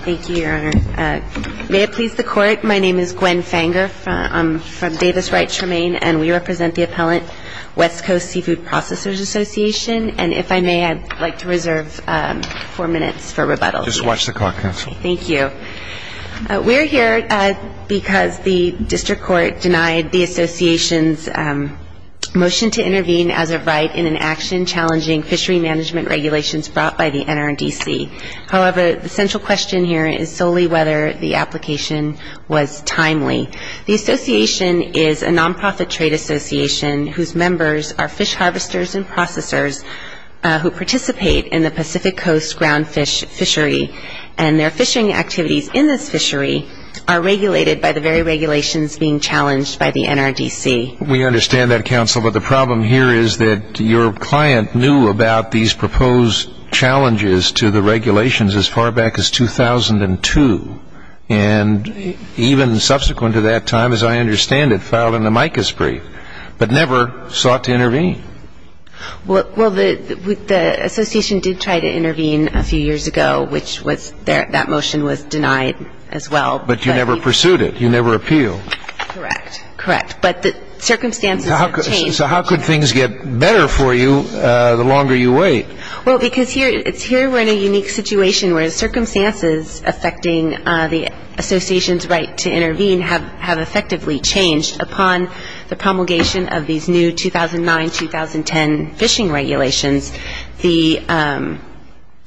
Thank you, Your Honor. May it please the Court, my name is Gwen Fanger from Davis Wright Tremaine, and we represent the appellant, West Coast Seafood Processors Association, and if I may, I'd like to reserve four minutes for rebuttal. Just watch the clock, Counsel. Thank you. We're here because the District Court denied the Association's motion to intervene as of right in an action challenging fishery management regulations brought by the NRDC. However, the central question here is solely whether the application was timely. The Association is a nonprofit trade association whose members are fish harvesters and processors who participate in the Pacific Coast ground fish fishery, and their fishing activities in this fishery are regulated by the very regulations being challenged by the NRDC. We understand that, Counsel, but the problem here is that your client knew about these proposed challenges to the regulations as far back as 2002, and even subsequent to that time, as I understand it, filed an amicus brief, but never sought to intervene. Well, the Association did try to intervene a few years ago, which was that motion was denied as well. But you never pursued it. You never appealed. Correct. Correct. But the circumstances have changed. So how could things get better for you the longer you wait? Well, because here we're in a unique situation where the circumstances affecting the Association's right to intervene have effectively changed upon the promulgation of these new 2009-2010 fishing regulations. Is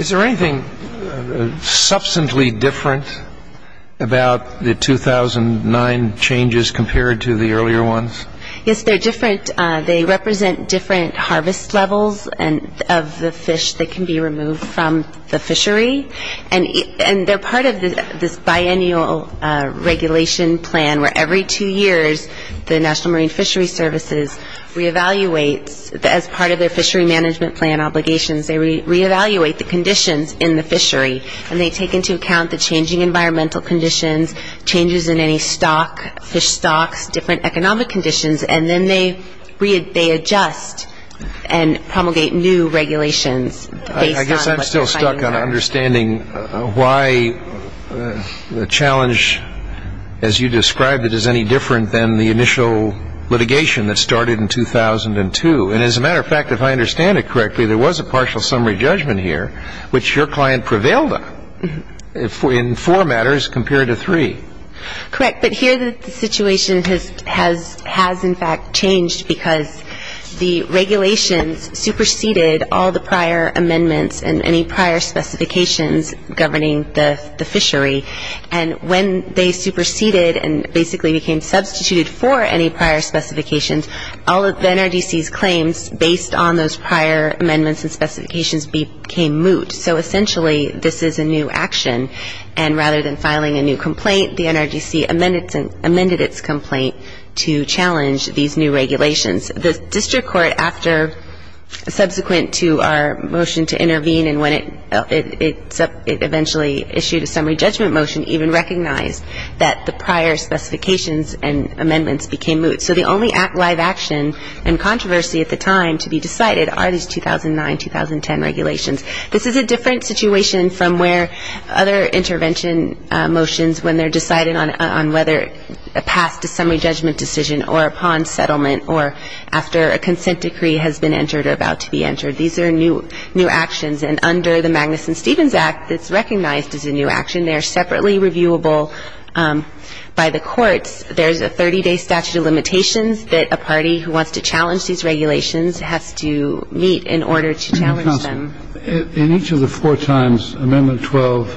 there anything substantially different about the 2009 changes compared to the earlier ones? Yes, they're different. They represent different harvest levels of the fish that can be removed from the fishery. And they're part of this biennial regulation plan where every two years the National Marine Fishery Services re-evaluates, as part of their fishery management plan obligations, they re-evaluate the conditions in the fishery. And they take into account the changing environmental conditions, changes in any stock, fish stocks, different economic conditions, and then they adjust and promulgate new regulations based on what they're finding there. And why the challenge, as you described it, is any different than the initial litigation that started in 2002? And as a matter of fact, if I understand it correctly, there was a partial summary judgment here, which your client prevailed on, in four matters compared to three. Correct. But here the situation has in fact changed because the regulations superseded all the prior amendments and any prior specifications governing the fishery. And when they superseded and basically became substituted for any prior specifications, all of NRDC's claims, based on those prior amendments and specifications, became moot. So essentially, this is a new action. And rather than filing a new complaint, the NRDC amended its complaint to challenge these new regulations. The district court, after subsequent to our motion to intervene and when it eventually issued a summary judgment motion, even recognized that the prior specifications and amendments became moot. So the only live action and controversy at the time to be decided are these 2009-2010 regulations. This is a different situation from where other intervention motions, when they're decided on whether a past to summary judgment decision or upon settlement or after a consent decree has been entered or about to be entered. These are new actions. And under the Magnuson-Stevens Act, it's recognized as a new action. They're separately reviewable by the courts. There's a 30-day statute of limitations that a party who wants to challenge these regulations has to meet in order to challenge them. In each of the four times, Amendment 12,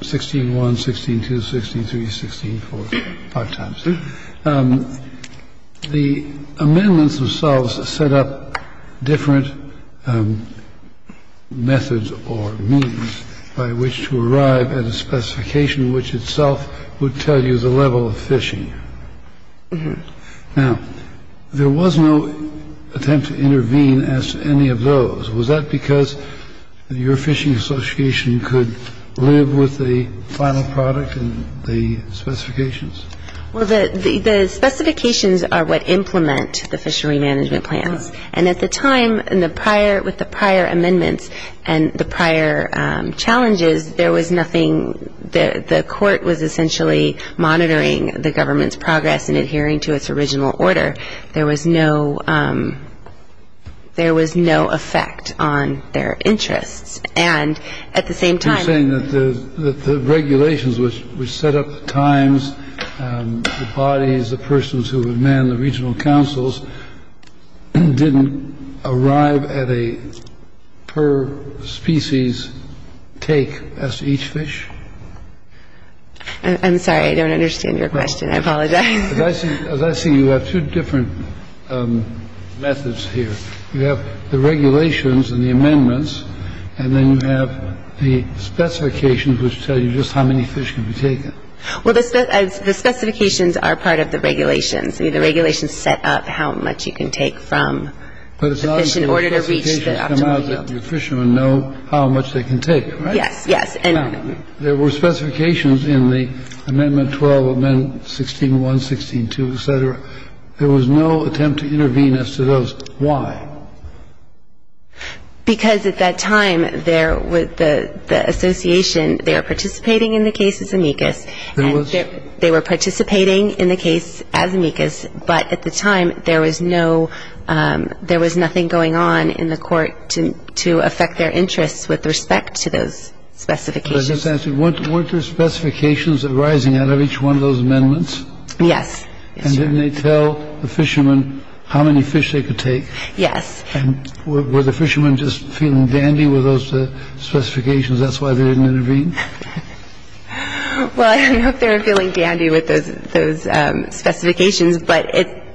16-1, 16-2, 16-3, 16-4, five times, the amendments themselves set up different methods or means by which to arrive at a specification which itself would tell you the level of phishing. Now, there was no attempt to intervene as to any of those. Was that because your phishing association could live with the final product and the specifications? Well, the specifications are what implement the fishery management plans. And at the time in the prior with the prior amendments and the prior challenges, there was nothing. The court was essentially monitoring the government's progress and adhering to its original order. There was no there was no effect on their interests. And I'm not saying that the regulations which set up the times, the bodies, the persons who would man the regional councils, didn't arrive at a per species take as to each fish. I'm sorry, I don't understand your question. I apologize. As I see you have two different methods here. You have the regulations and the amendments, and then you have the specifications which tell you just how many fish can be taken. Well, the specifications are part of the regulations. I mean, the regulations set up how much you can take from the fish in order to reach the optimal yield. But it's not that the specifications come out that the fishermen know how much they can take, right? Yes, yes. Now, there were specifications in the Amendment 12, Amendment 16-1, 16-2, et cetera. There was no attempt to intervene as to those. Why? Because at that time, there was the association. They were participating in the case as amicus. There was? They were participating in the case as amicus. But at the time, there was no there was nothing going on in the court to affect their Were there specifications arising out of each one of those amendments? Yes. And didn't they tell the fishermen how many fish they could take? Yes. Were the fishermen just feeling dandy with those specifications? That's why they didn't intervene. Well, I don't know if they were feeling dandy with those those specifications. But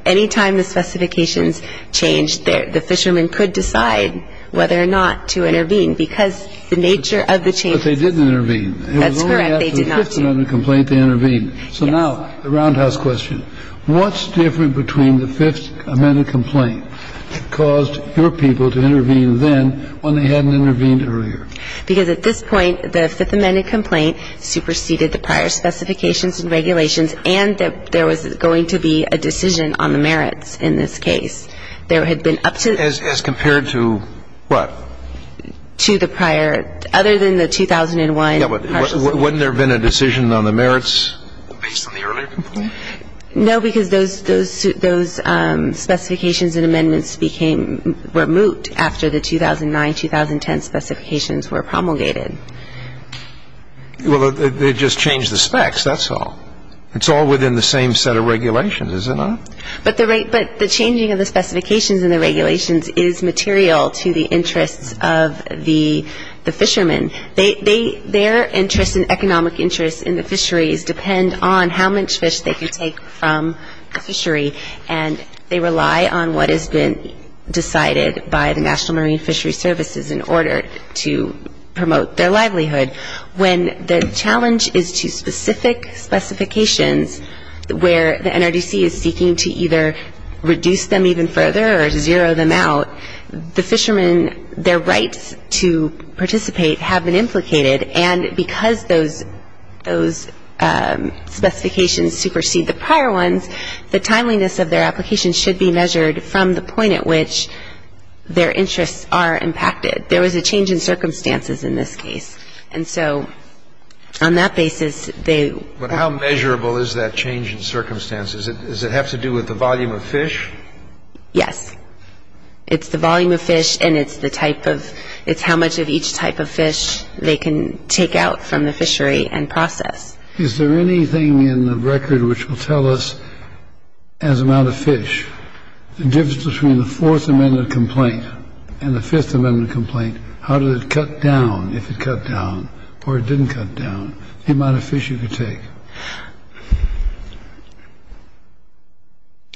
any time the specifications changed, the fishermen could decide whether or not to intervene because the nature of the change. But they didn't intervene. That's correct. They did not intervene. So now the roundhouse question. What's different between the Fifth Amendment complaint that caused your people to intervene then when they hadn't intervened earlier? Because at this point, the Fifth Amendment complaint superseded the prior specifications and regulations and that there was going to be a decision on the merits in this case. There had been up to. As compared to what? To the prior. Other than the 2001. Wouldn't there have been a decision on the merits based on the earlier complaint? No, because those specifications and amendments were moot after the 2009-2010 specifications were promulgated. Well, they just changed the specs. That's all. It's all within the same set of regulations, is it not? But the changing of the specifications and the regulations is material to the interests of the fishermen. Their interests and economic interests in the fisheries depend on how much fish they can take from the fishery, and they rely on what has been decided by the National Marine Fishery Services in order to promote their livelihood. When the challenge is to specific specifications where the NRDC is seeking to either reduce them even further or to zero them out, the fishermen, their rights to participate have been implicated, and because those specifications supersede the prior ones, the timeliness of their application should be measured from the point at which their interests are impacted. There was a change in circumstances in this case, and so on that basis, they — But how measurable is that change in circumstances? Does it have to do with the volume of fish? Yes. It's the volume of fish, and it's the type of — it's how much of each type of fish they can take out from the fishery and process. Is there anything in the record which will tell us, as amount of fish, the difference between the Fourth Amendment complaint and the Fifth Amendment complaint? How did it cut down, if it cut down, or it didn't cut down, the amount of fish you could take?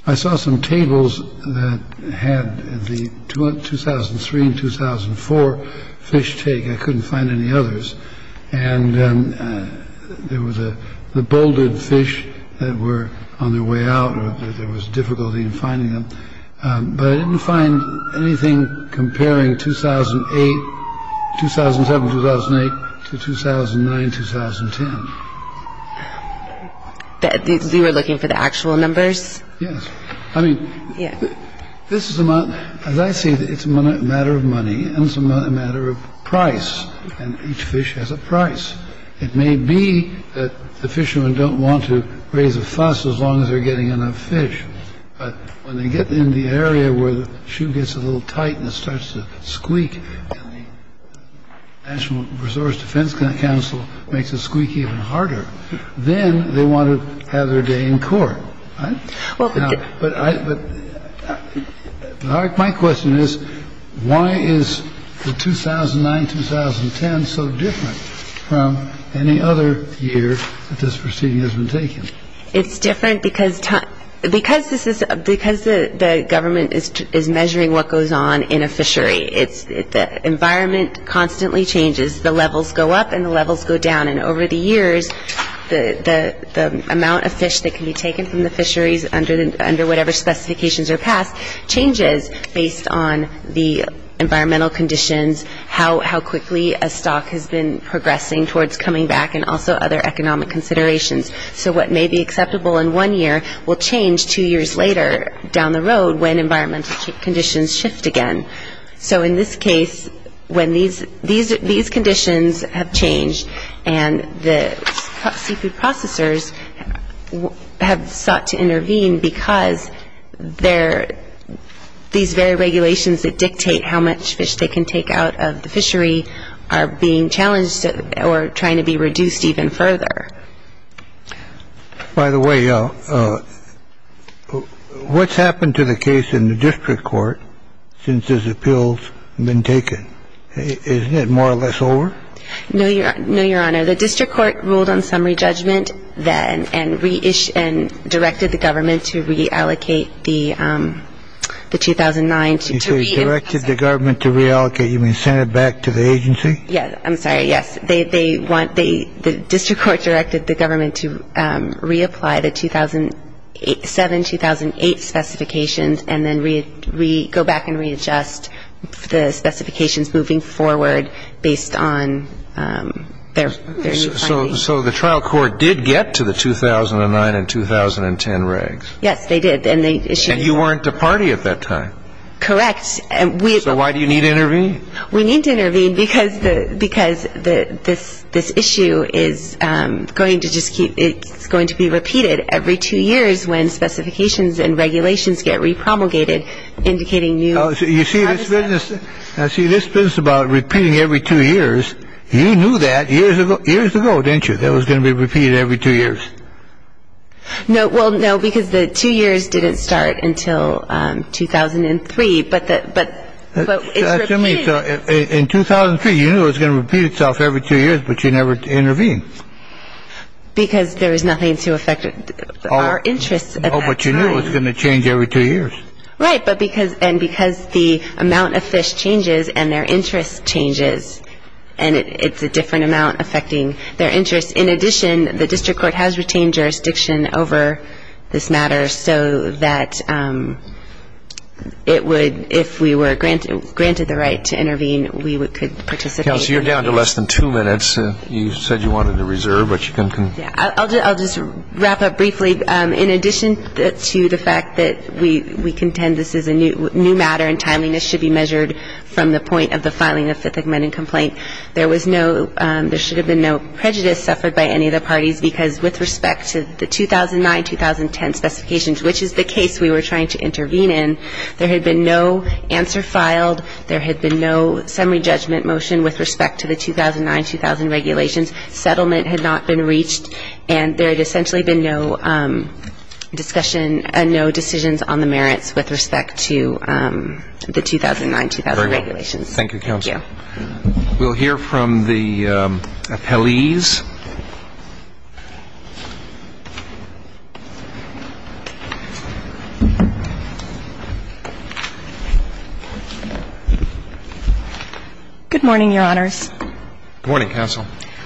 I saw some tables that had the 2003 and 2004 fish take. I couldn't find any others. And there was a — the bouldered fish that were on their way out, or there was difficulty in finding them. But I didn't find anything comparing 2008, 2007, 2008, to 2009, 2010. You were looking for the actual numbers? Yes. I mean, this is the amount — as I see it, it's a matter of money, and it's a matter of price. And each fish has a price. It may be that the fishermen don't want to raise a fuss as long as they're getting enough fish. But when they get in the area where the shoe gets a little tight and it starts to squeak, and the National Resource Defense Council makes it squeak even harder, then they want to have their day in court. But my question is, why is the 2009, 2010 so different from any other year that this proceeding has been taken? It's different because the government is measuring what goes on in a fishery. The environment constantly changes. The levels go up and the levels go down. And over the years, the amount of fish that can be taken from the fisheries under whatever specifications are passed, changes based on the environmental conditions, how quickly a stock has been progressing towards coming back, and also other economic considerations. So what may be acceptable in one year will change two years later down the road when environmental conditions shift again. So in this case, when these conditions have changed and the seafood processors have sought to intervene because these very regulations that dictate how much fish they can take out of the fishery are being challenged or trying to be reduced even further. By the way, what's happened to the case in the district court since this appeal's been taken? Isn't it more or less over? No, Your Honor. The district court ruled on summary judgment then and directed the government to reallocate the 2009. You say directed the government to reallocate. You mean send it back to the agency? Yes. I'm sorry. The district court directed the government to reapply the 2007-2008 specifications and then go back and readjust the specifications moving forward based on their new findings. So the trial court did get to the 2009 and 2010 regs. Yes, they did. And you weren't a party at that time. Correct. So why do you need to intervene? We need to intervene because this issue is going to be repeated every two years when specifications and regulations get repromulgated, indicating new… You see, this business about repeating every two years, you knew that years ago, didn't you, that it was going to be repeated every two years? No, because the two years didn't start until 2003. In 2003, you knew it was going to repeat itself every two years, but you never intervened. Because there was nothing to affect our interests at that time. No, but you knew it was going to change every two years. Right, and because the amount of fish changes and their interest changes and it's a different amount affecting their interests. In addition, the district court has retained jurisdiction over this matter so that it would, if we were granted the right to intervene, we could participate. Kelsey, you're down to less than two minutes. You said you wanted to reserve, but you can… I'll just wrap up briefly. In addition to the fact that we contend this is a new matter and timeliness should be measured from the point of the filing of Fifth Amendment complaint, there should have been no prejudice suffered by any of the parties because with respect to the 2009-2010 specifications, which is the case we were trying to intervene in, there had been no answer filed, there had been no summary judgment motion with respect to the 2009-2000 regulations, settlement had not been reached, and there had essentially been no discussion and no decisions on the merits with respect to the 2009-2000 regulations. Thank you, Kelsey. Thank you. We'll hear from the appellees. Good morning, Your Honors. Good morning, Counsel.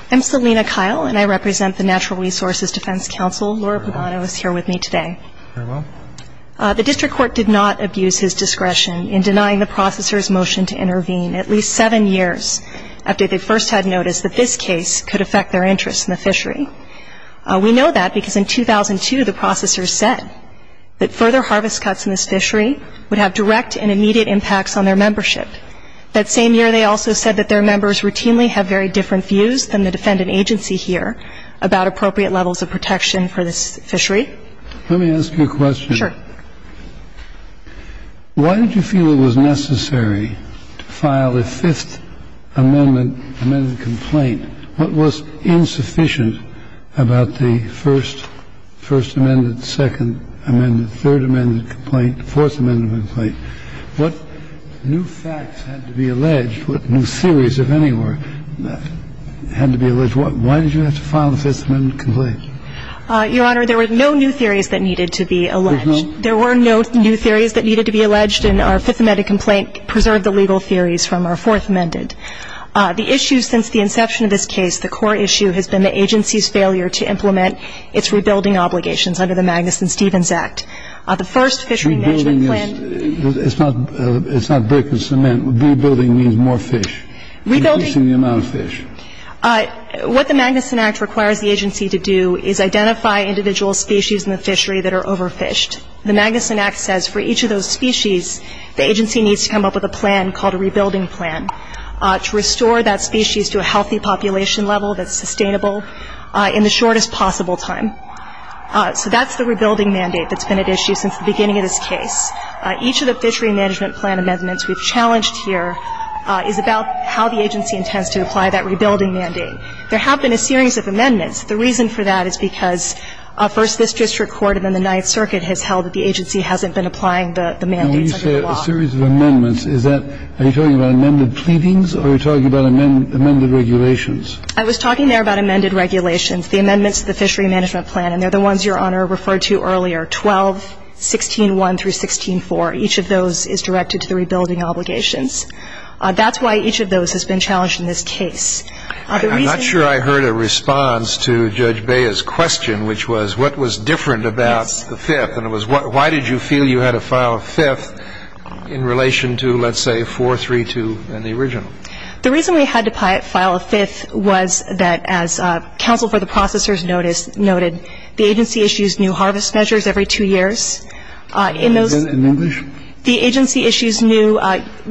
I'm Selina Kyle, and I represent the Natural Resources Defense Counsel. Laura Pagano is here with me today. Very well. The district court did not abuse his discretion in denying the processor's motion to intervene at least seven years after they first had noticed that this case could affect their interest in the fishery. We know that because in 2002, the processor said that further harvest cuts in this fishery would have direct and immediate impacts on their membership. That same year, they also said that their members routinely have very different views than the defendant agency here about appropriate levels of protection for this fishery. Let me ask you a question. Sure. Why did you feel it was necessary to file a Fifth Amendment complaint? What was insufficient about the First Amendment, Second Amendment, Third Amendment complaint, Fourth Amendment complaint? What new facts had to be alleged, what new theories, if any, had to be alleged? Why did you have to file the Fifth Amendment complaint? Your Honor, there were no new theories that needed to be alleged. There were no new theories that needed to be alleged, and our Fifth Amendment complaint preserved the legal theories from our Fourth Amendment. The issue since the inception of this case, the core issue has been the agency's failure to implement its rebuilding obligations under the Magnuson-Stevens Act. The first fishery management plan. It's not brick and cement. Rebuilding means more fish, increasing the amount of fish. What the Magnuson Act requires the agency to do is identify individual species in the fishery that are overfished. The Magnuson Act says for each of those species, the agency needs to come up with a plan called a rebuilding plan to restore that species to a healthy population level that's sustainable in the shortest possible time. So that's the rebuilding mandate that's been at issue since the beginning of this case. Each of the fishery management plan amendments we've challenged here is about how the agency intends to apply that rebuilding mandate. There have been a series of amendments. The reason for that is because, first, this district court, and then the Ninth Circuit has held that the agency hasn't been applying the mandates under the law. And when you say a series of amendments, is that, are you talking about amended pleadings, or are you talking about amended regulations? I was talking there about amended regulations. The amendments to the fishery management plan, and they're the ones Your Honor referred to earlier, 12, 16-1 through 16-4, each of those is directed to the rebuilding obligations. That's why each of those has been challenged in this case. I'm not sure I heard a response to Judge Bea's question, which was, what was different about the fifth? And it was, why did you feel you had to file a fifth in relation to, let's say, 4-3-2 in the original? The reason we had to file a fifth was that, as counsel for the processors noted, the agency issues new harvest measures every two years. In English? The agency issues new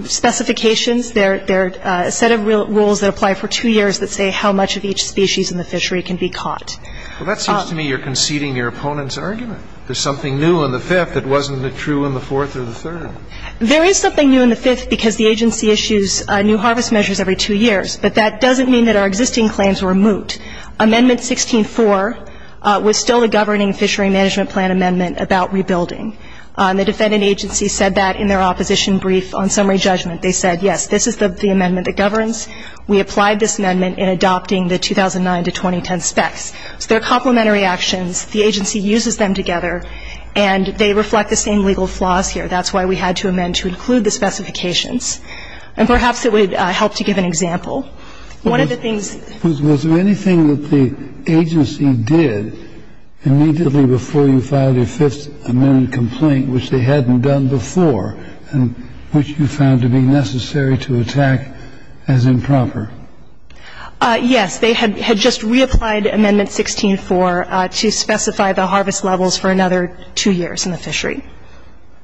specifications. They're a set of rules that apply for two years that say how much of each species in the fishery can be caught. Well, that seems to me you're conceding your opponent's argument. There's something new in the fifth that wasn't true in the fourth or the third. There is something new in the fifth because the agency issues new harvest measures every two years, but that doesn't mean that our existing claims were moot. Amendment 16-4 was still a governing fishery management plan amendment about rebuilding. The defendant agency said that in their opposition brief on summary judgment. They said, yes, this is the amendment that governs. We applied this amendment in adopting the 2009-2010 specs. So they're complementary actions. The agency uses them together, and they reflect the same legal flaws here. That's why we had to amend to include the specifications. And perhaps it would help to give an example. One of the things ---- Was there anything that the agency did immediately before you filed your fifth amendment complaint, which they hadn't done before and which you found to be necessary to attack as improper? Yes. They had just reapplied Amendment 16-4 to specify the harvest levels for another two years in the fishery.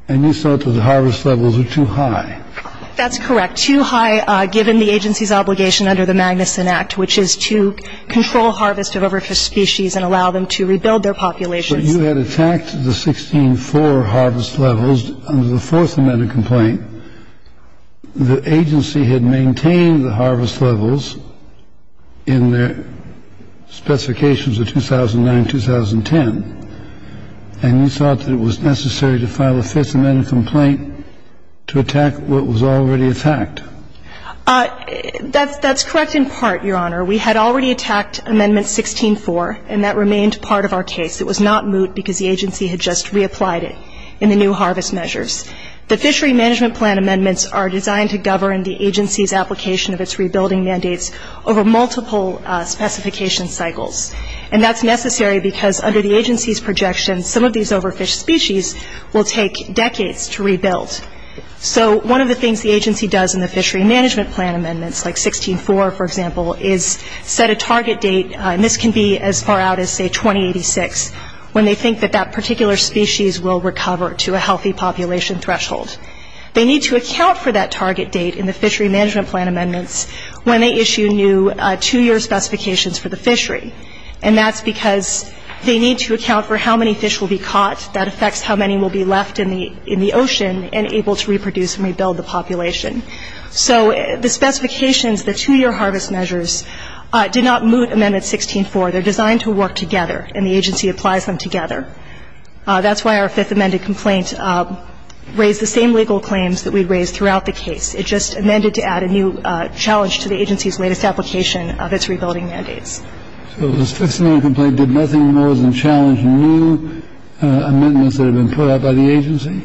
And you thought that the harvest levels were too high. That's correct. They were too high given the agency's obligation under the Magnuson Act, which is to control harvest of overfished species and allow them to rebuild their populations. But you had attacked the 16-4 harvest levels under the fourth amendment complaint. The agency had maintained the harvest levels in their specifications of 2009-2010. And you thought that it was necessary to file a fifth amendment complaint to attack what was already attacked. That's correct in part, Your Honor. We had already attacked Amendment 16-4, and that remained part of our case. It was not moot because the agency had just reapplied it in the new harvest measures. The fishery management plan amendments are designed to govern the agency's application of its rebuilding mandates over multiple specification cycles. And that's necessary because under the agency's projection, some of these overfished species will take decades to rebuild. So one of the things the agency does in the fishery management plan amendments, like 16-4, for example, is set a target date, and this can be as far out as, say, 2086, when they think that that particular species will recover to a healthy population threshold. They need to account for that target date in the fishery management plan amendments when they issue new two-year specifications for the fishery. And that's because they need to account for how many fish will be caught. That affects how many will be left in the ocean and able to reproduce and rebuild the population. So the specifications, the two-year harvest measures, did not moot Amendment 16-4. They're designed to work together, and the agency applies them together. That's why our fifth amended complaint raised the same legal claims that we raised throughout the case. It just amended to add a new challenge to the agency's latest application of its rebuilding mandates. So this fifth amendment complaint did nothing more than challenge new amendments that have been put out by the agency?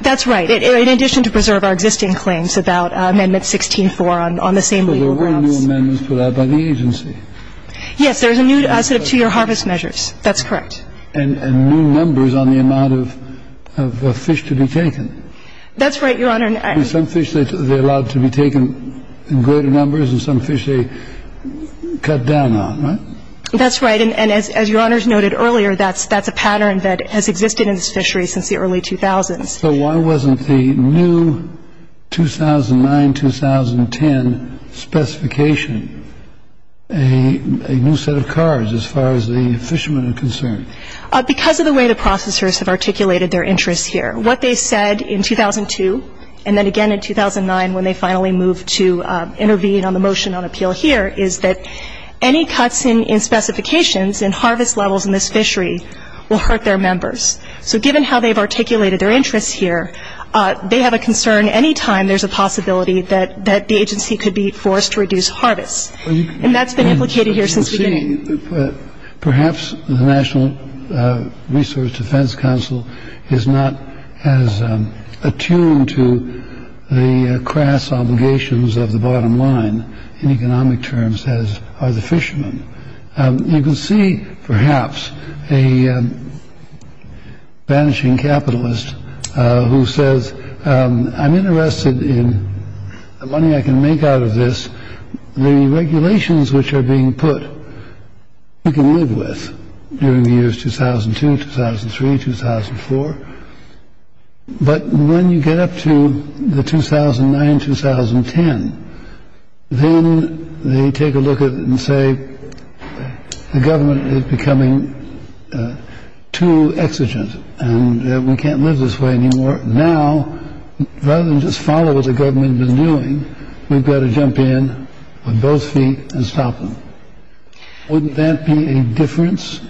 That's right. In addition to preserve our existing claims about Amendment 16-4 on the same legal grounds. So there were new amendments put out by the agency. Yes, there's a new set of two-year harvest measures. That's correct. And new numbers on the amount of fish to be taken. That's right, Your Honor. Some fish, they're allowed to be taken in greater numbers, and some fish they cut down on, right? That's right. And as Your Honor's noted earlier, that's a pattern that has existed in this fishery since the early 2000s. So why wasn't the new 2009-2010 specification a new set of cards as far as the fishermen are concerned? Because of the way the processors have articulated their interests here. What they said in 2002, and then again in 2009 when they finally moved to intervene on the motion on appeal here, is that any cuts in specifications in harvest levels in this fishery will hurt their members. So given how they've articulated their interests here, they have a concern any time there's a possibility that the agency could be forced to reduce harvests. And that's been implicated here since the beginning. Perhaps the National Resource Defense Council is not as attuned to the crass obligations of the bottom line in economic terms as are the fishermen. You can see perhaps a vanishing capitalist who says, I'm interested in the money I can make out of this. The regulations which are being put, you can live with during the years 2002, 2003, 2004. But when you get up to the 2009-2010, then they take a look at it and say, the government is becoming too exigent and we can't live this way anymore. Now, rather than just follow what the government has been doing, we've got to jump in on both feet and stop them. Wouldn't that be a difference?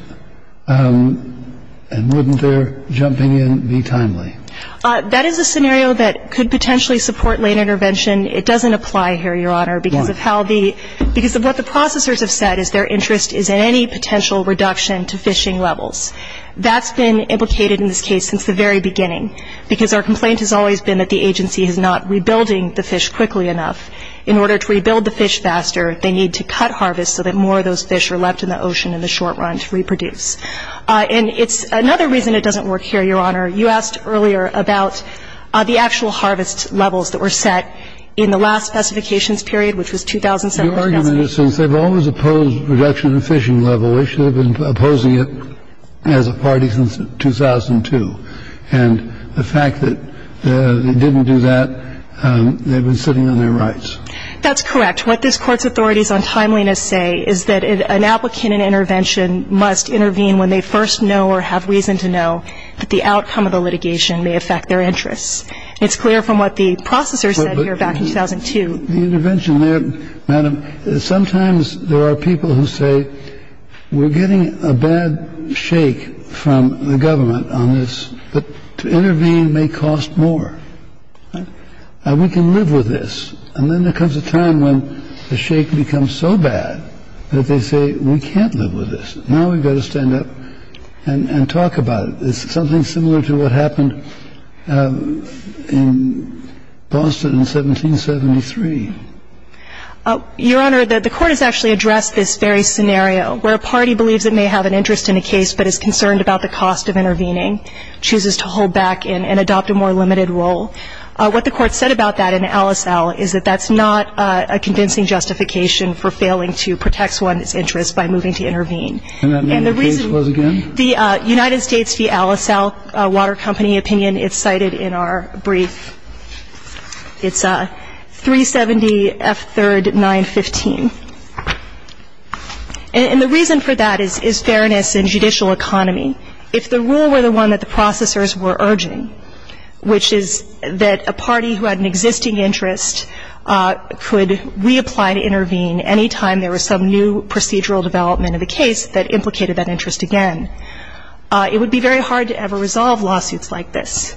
And wouldn't their jumping in be timely? That is a scenario that could potentially support late intervention. It doesn't apply here, Your Honor, because of how the, because of what the processors have said is their interest is in any potential reduction to fishing levels. That's been implicated in this case since the very beginning, because our complaint has always been that the agency is not rebuilding the fish quickly enough. In order to rebuild the fish faster, they need to cut harvests so that more of those fish are left in the ocean in the short run to reproduce. And it's another reason it doesn't work here, Your Honor. You asked earlier about the actual harvest levels that were set in the last specifications period, which was 2007. Your argument is since they've always opposed reduction in the fishing level, they should have been opposing it as a party since 2002. And the fact that they didn't do that, they've been sitting on their rights. That's correct. What this Court's authorities on timeliness say is that an applicant in intervention must intervene when they first know or have reason to know that the outcome of the litigation may affect their interests. It's clear from what the processors said here back in 2002. The intervention there, Madam, sometimes there are people who say, we're getting a bad shake from the government on this, but to intervene may cost more. We can live with this. And then there comes a time when the shake becomes so bad that they say, we can't live with this. Now we've got to stand up and talk about it. It's something similar to what happened in Boston in 1773. Your Honor, the Court has actually addressed this very scenario where a party believes it may have an interest in a case but is concerned about the cost of intervening, chooses to hold back and adopt a more limited role. What the Court said about that in Alice L. is that that's not a convincing justification for failing to protect one's interests by moving to intervene. And the reason the United States v. Alice L. Water Company opinion is cited in our brief. It's 370F3 915. And the reason for that is fairness in judicial economy. If the rule were the one that the processors were urging, which is that a party who had an existing interest could reapply to intervene any time there was some new procedural development of a case that implicated that interest again, it would be very hard to ever resolve lawsuits like this.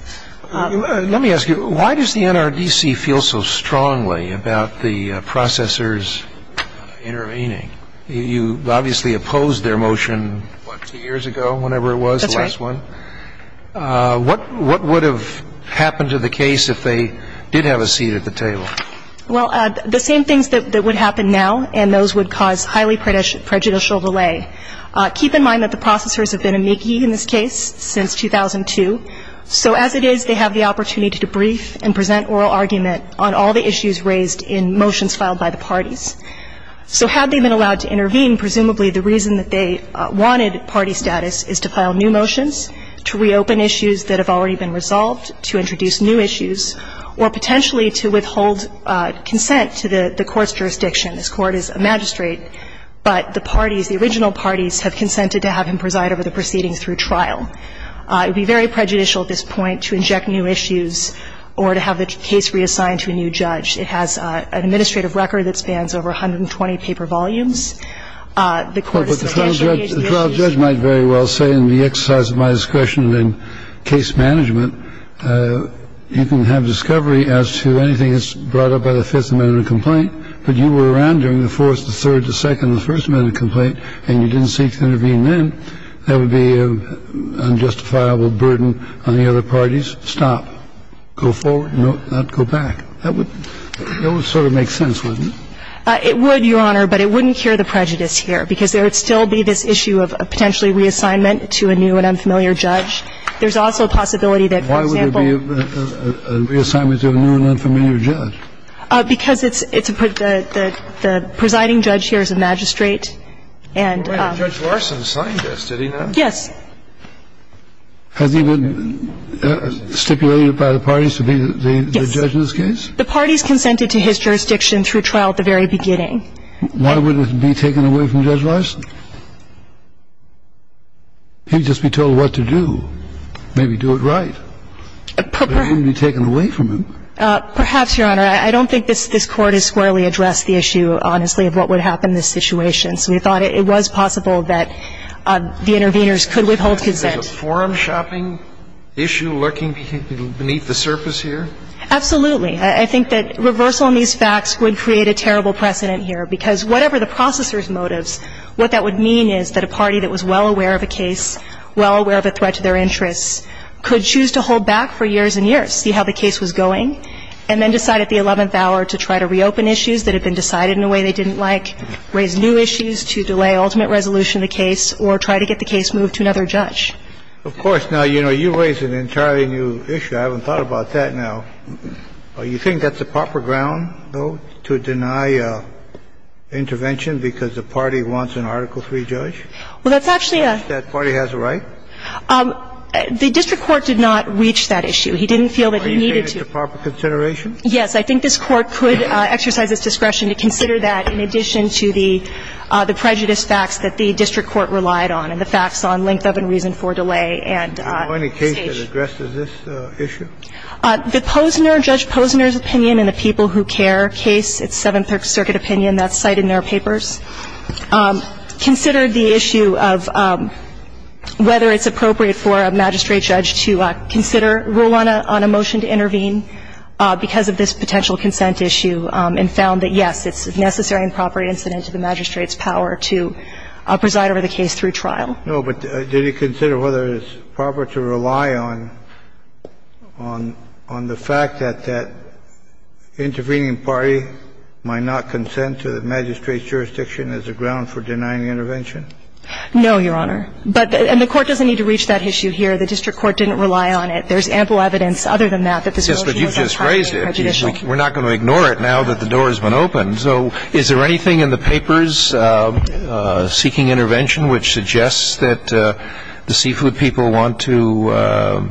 Let me ask you, why does the NRDC feel so strongly about the processors intervening? You obviously opposed their motion, what, two years ago, whenever it was, the last one? That's right. So what would have happened to the case if they did have a seat at the table? Well, the same things that would happen now and those would cause highly prejudicial delay. Keep in mind that the processors have been amici in this case since 2002. So as it is, they have the opportunity to brief and present oral argument on all the issues raised in motions filed by the parties. So had they been allowed to intervene, presumably the reason that they wanted party status is to file new motions, to reopen issues that have already been resolved, to introduce new issues, or potentially to withhold consent to the Court's jurisdiction. This Court is a magistrate, but the parties, the original parties, have consented to have him preside over the proceedings through trial. It would be very prejudicial at this point to inject new issues or to have the case reassigned to a new judge. It has an administrative record that spans over 120 paper volumes. The Court is substantially engaged in this issue. But the trial judge might very well say in the exercise of my discretion and in case management, you can have discovery as to anything that's brought up by the Fifth Amendment complaint, but you were around during the Fourth, the Third, the Second, the First Amendment complaint and you didn't seek to intervene then, that would be an unjustifiable burden on the other parties. Stop. Go forward, not go back. That would sort of make sense, wouldn't it? It would, Your Honor, but it wouldn't cure the prejudice here, because there would still be this issue of potentially reassignment to a new and unfamiliar judge. There's also a possibility that, for example Why would there be a reassignment to a new and unfamiliar judge? Because it's a the presiding judge here is a magistrate and Judge Larson signed this, did he not? Yes. Has he been stipulated by the parties to be the judge in this case? The parties consented to his jurisdiction through trial at the very beginning. Why would it be taken away from Judge Larson? He'd just be told what to do, maybe do it right. It wouldn't be taken away from him. Perhaps, Your Honor. I don't think this Court has squarely addressed the issue, honestly, of what would happen in this situation. So we thought it was possible that the interveners could withhold consent. Is it a forum shopping issue lurking beneath the surface here? Absolutely. I think that reversal in these facts would create a terrible precedent here, because whatever the processor's motives, what that would mean is that a party that was well aware of a case, well aware of a threat to their interests, could choose to hold back for years and years, see how the case was going, and then decide at the 11th hour to try to reopen issues that had been decided in a way they didn't like, raise new issues to delay ultimate resolution of the case, or try to get the case moved to another judge. Of course. Now, you know, you raise an entirely new issue. I haven't thought about that now. You think that's the proper ground, though, to deny intervention because the party wants an Article III judge? Well, that's actually a – That party has a right? The district court did not reach that issue. He didn't feel that he needed to. Are you saying it's a proper consideration? Yes. I think this Court could exercise its discretion to consider that in addition to the prejudice facts that the district court relied on and the facts on length of and reason for delay and station. Do you know any case that addresses this issue? The Posner – Judge Posner's opinion in the People Who Care case, its Seventh Circuit opinion, that's cited in their papers, considered the issue of whether it's appropriate for a magistrate judge to consider rule on a motion to intervene because of this potential consent issue and found that, yes, it's a necessary and proper incident to the magistrate's power to preside over the case through No, but did he consider whether it's proper to rely on – on the fact that that intervening party might not consent to the magistrate's jurisdiction as a ground for denying intervention? No, Your Honor. But – and the court doesn't need to reach that issue here. The district court didn't rely on it. There's ample evidence other than that that this motion was entirely prejudicial. Yes, but you just raised it. We're not going to ignore it now that the door has been opened. So is there anything in the papers seeking intervention which suggests that the seafood people want to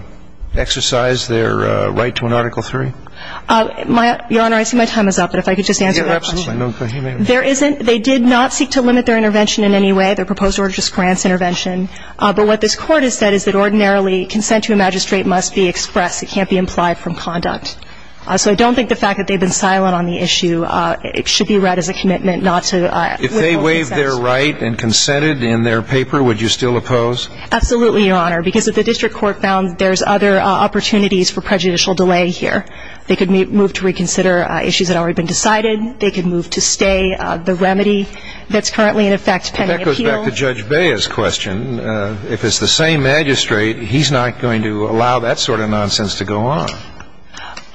exercise their right to an Article III? My – Your Honor, I see my time is up, but if I could just answer that question. Yeah, absolutely. No, go ahead. There isn't – they did not seek to limit their intervention in any way. Their proposed order just grants intervention. But what this Court has said is that ordinarily consent to a magistrate must be expressed. It can't be implied from conduct. So I don't think the fact that they've been silent on the issue should be read as a commitment not to withhold consent. If they waived their right and consented in their paper, would you still oppose? Absolutely, Your Honor, because if the district court found there's other opportunities for prejudicial delay here, they could move to reconsider issues that had already been decided. They could move to stay the remedy that's currently in effect pending appeal. That goes back to Judge Bea's question. If it's the same magistrate, he's not going to allow that sort of nonsense to go on.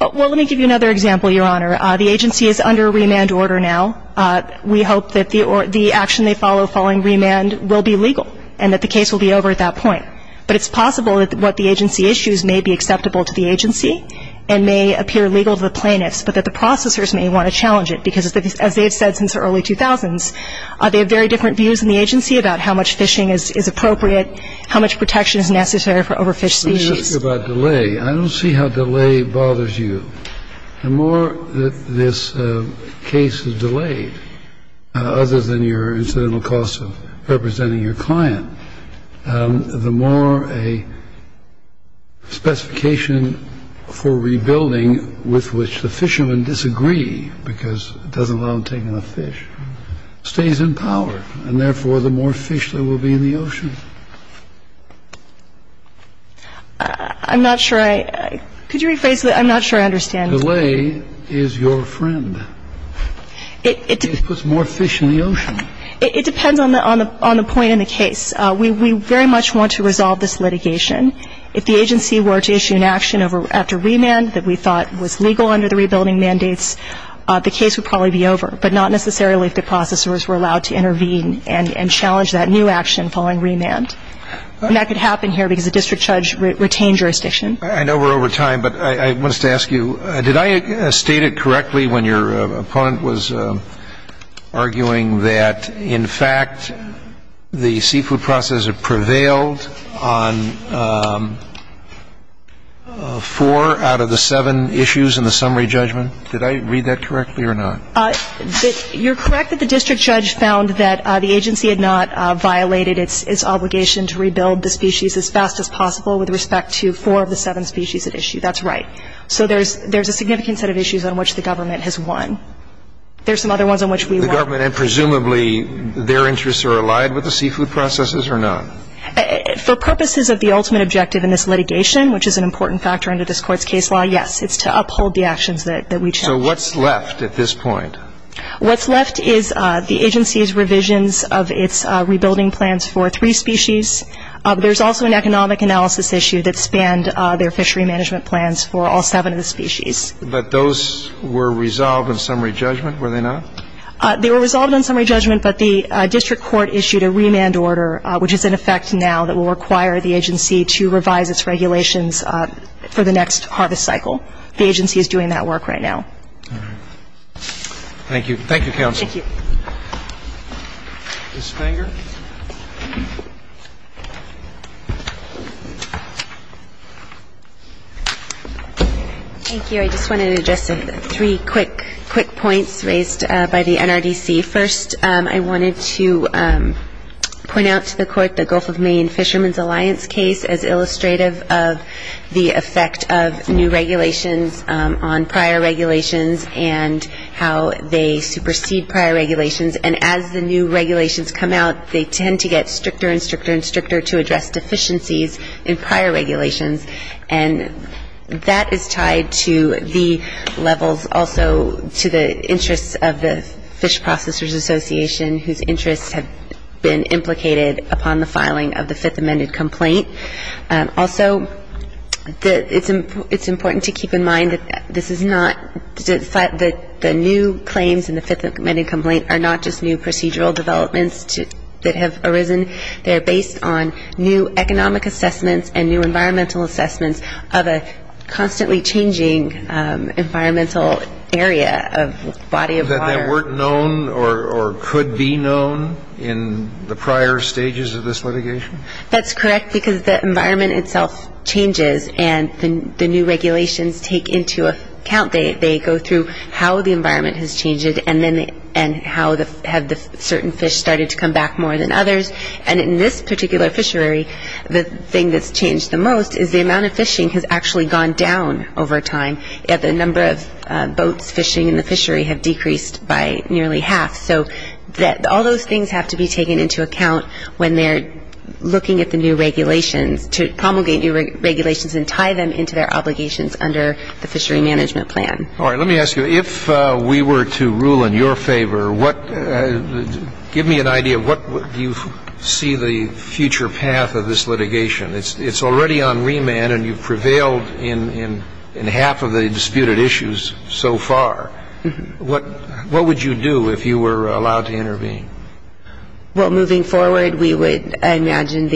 Well, let me give you another example, Your Honor. The agency is under a remand order now. We hope that the action they follow following remand will be legal and that the case will be over at that point. But it's possible that what the agency issues may be acceptable to the agency and may appear legal to the plaintiffs, but that the processors may want to challenge it because, as they have said since the early 2000s, they have very different views in the agency about how much phishing is appropriate, how much protection is necessary for overfished species. Let me ask you about delay. I don't see how delay bothers you. The more that this case is delayed, other than your incidental costs of representing your client, the more a specification for rebuilding with which the fishermen disagree, because it doesn't allow them to take enough fish, stays in power, and therefore the more fish there will be in the ocean. I'm not sure I – could you rephrase that? I'm not sure I understand. Delay is your friend. It puts more fish in the ocean. It depends on the point in the case. We very much want to resolve this litigation. If the agency were to issue an action after remand that we thought was legal under the rebuilding mandates, the case would probably be over, but not necessarily if the processors were allowed to intervene and challenge that new action following remand. And that could happen here because the district judge retained jurisdiction. I know we're over time, but I wanted to ask you, did I state it correctly when your opponent was arguing that, in fact, the seafood processor prevailed on four out of the seven issues in the summary judgment? Did I read that correctly or not? You're correct that the district judge found that the agency had not violated its obligation to rebuild the species as fast as possible with respect to four of the seven species at issue. That's right. So there's a significant set of issues on which the government has won. There's some other ones on which we won. The government and presumably their interests are allied with the seafood processors or not? For purposes of the ultimate objective in this litigation, which is an important factor under this court's case law, yes, it's to uphold the actions that we challenge. So what's left at this point? What's left is the agency's revisions of its rebuilding plans for three species. There's also an economic analysis issue that spanned their fishery management plans for all seven of the species. But those were resolved in summary judgment, were they not? They were resolved in summary judgment, but the district court issued a remand order, which is in effect now, that will require the agency to revise its regulations for the next harvest cycle. The agency is doing that work right now. All right. Thank you. Thank you, counsel. Thank you. Ms. Fanger. Thank you. I just wanted to address three quick points raised by the NRDC. First, I wanted to point out to the court the Gulf of Maine Fishermen's Alliance case as illustrative of the effect of new regulations on prior regulations and how they supersede prior regulations. And as the new regulations come out, they tend to get stricter and stricter and stricter to address deficiencies in prior regulations. And that is tied to the levels also to the interests of the Fish Processors Association, whose interests have been implicated upon the filing of the Fifth Amendment complaint. Also, it's important to keep in mind that this is not the new claims in the Fifth Amendment complaint are not just new procedural developments that have arisen. They are based on new economic assessments and new environmental assessments of a constantly changing environmental area of body of water. That weren't known or could be known in the prior stages of this litigation? That's correct, because the environment itself changes, and the new regulations take into account. They go through how the environment has changed and how have certain fish started to come back more than others. And in this particular fishery, the thing that's changed the most is the amount of fishing has actually gone down over time. The number of boats fishing in the fishery have decreased by nearly half. So all those things have to be taken into account when they're looking at the new regulations to promulgate new regulations and tie them into their obligations under the Fishery Management Plan. All right. Let me ask you, if we were to rule in your favor, what do you see the future path of this litigation? It's already on remand, and you've prevailed in half of the disputed issues so far. What would you do if you were allowed to intervene? Well, moving forward, we would, I imagine,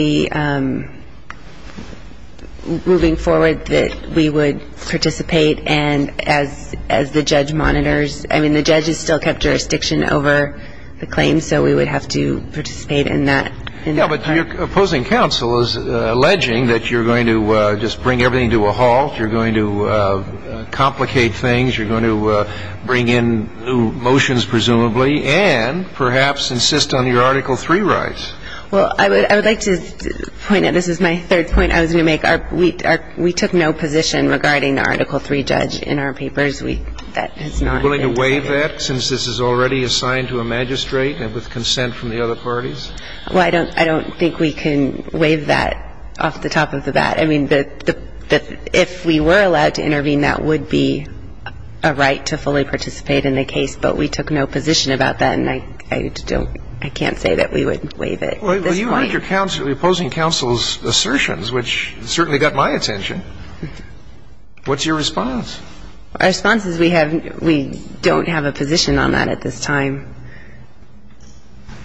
moving forward that we would participate and as the judge monitors, I mean, the judge has still kept jurisdiction over the claims, so we would have to participate in that. Yeah, but your opposing counsel is alleging that you're going to just bring everything to a halt, you're going to complicate things, you're going to bring in new motions, presumably, and perhaps insist on your Article III rights. Well, I would like to point out, this is my third point I was going to make, we took no position regarding the Article III judge in our papers. Are you willing to waive that since this is already assigned to a magistrate and with consent from the other parties? Well, I don't think we can waive that off the top of the bat. I mean, if we were allowed to intervene, that would be a right to fully participate in the case, but we took no position about that, and I can't say that we would waive it at this point. Well, you made your opposing counsel's assertions, which certainly got my attention. What's your response? Our response is we don't have a position on that at this time.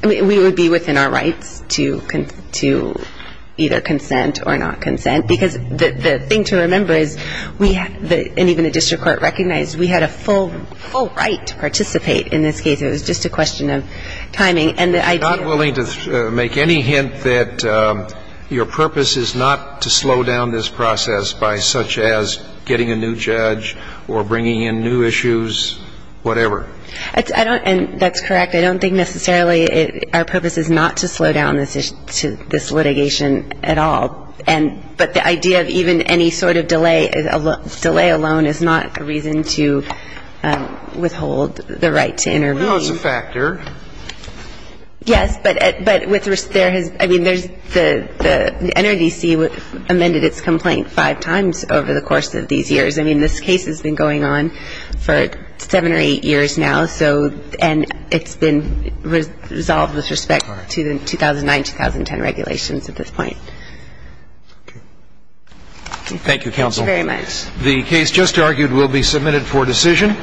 We would be within our rights to either consent or not consent, because the thing to remember is, and even the district court recognized, we had a full right to participate in this case. It was just a question of timing. I'm not willing to make any hint that your purpose is not to slow down this process by such as getting a new judge or bringing in new issues, whatever. That's correct. I don't think necessarily our purpose is not to slow down this litigation at all, but the idea of even any sort of delay alone is not a reason to withhold the right to intervene. Well, that was a factor. Yes, but there has been the NRDC amended its complaint five times over the course of these years. I mean, this case has been going on for seven or eight years now, and it's been resolved with respect to the 2009-2010 regulations at this point. Okay. Thank you, counsel. Thank you very much. The case just argued will be submitted for decision.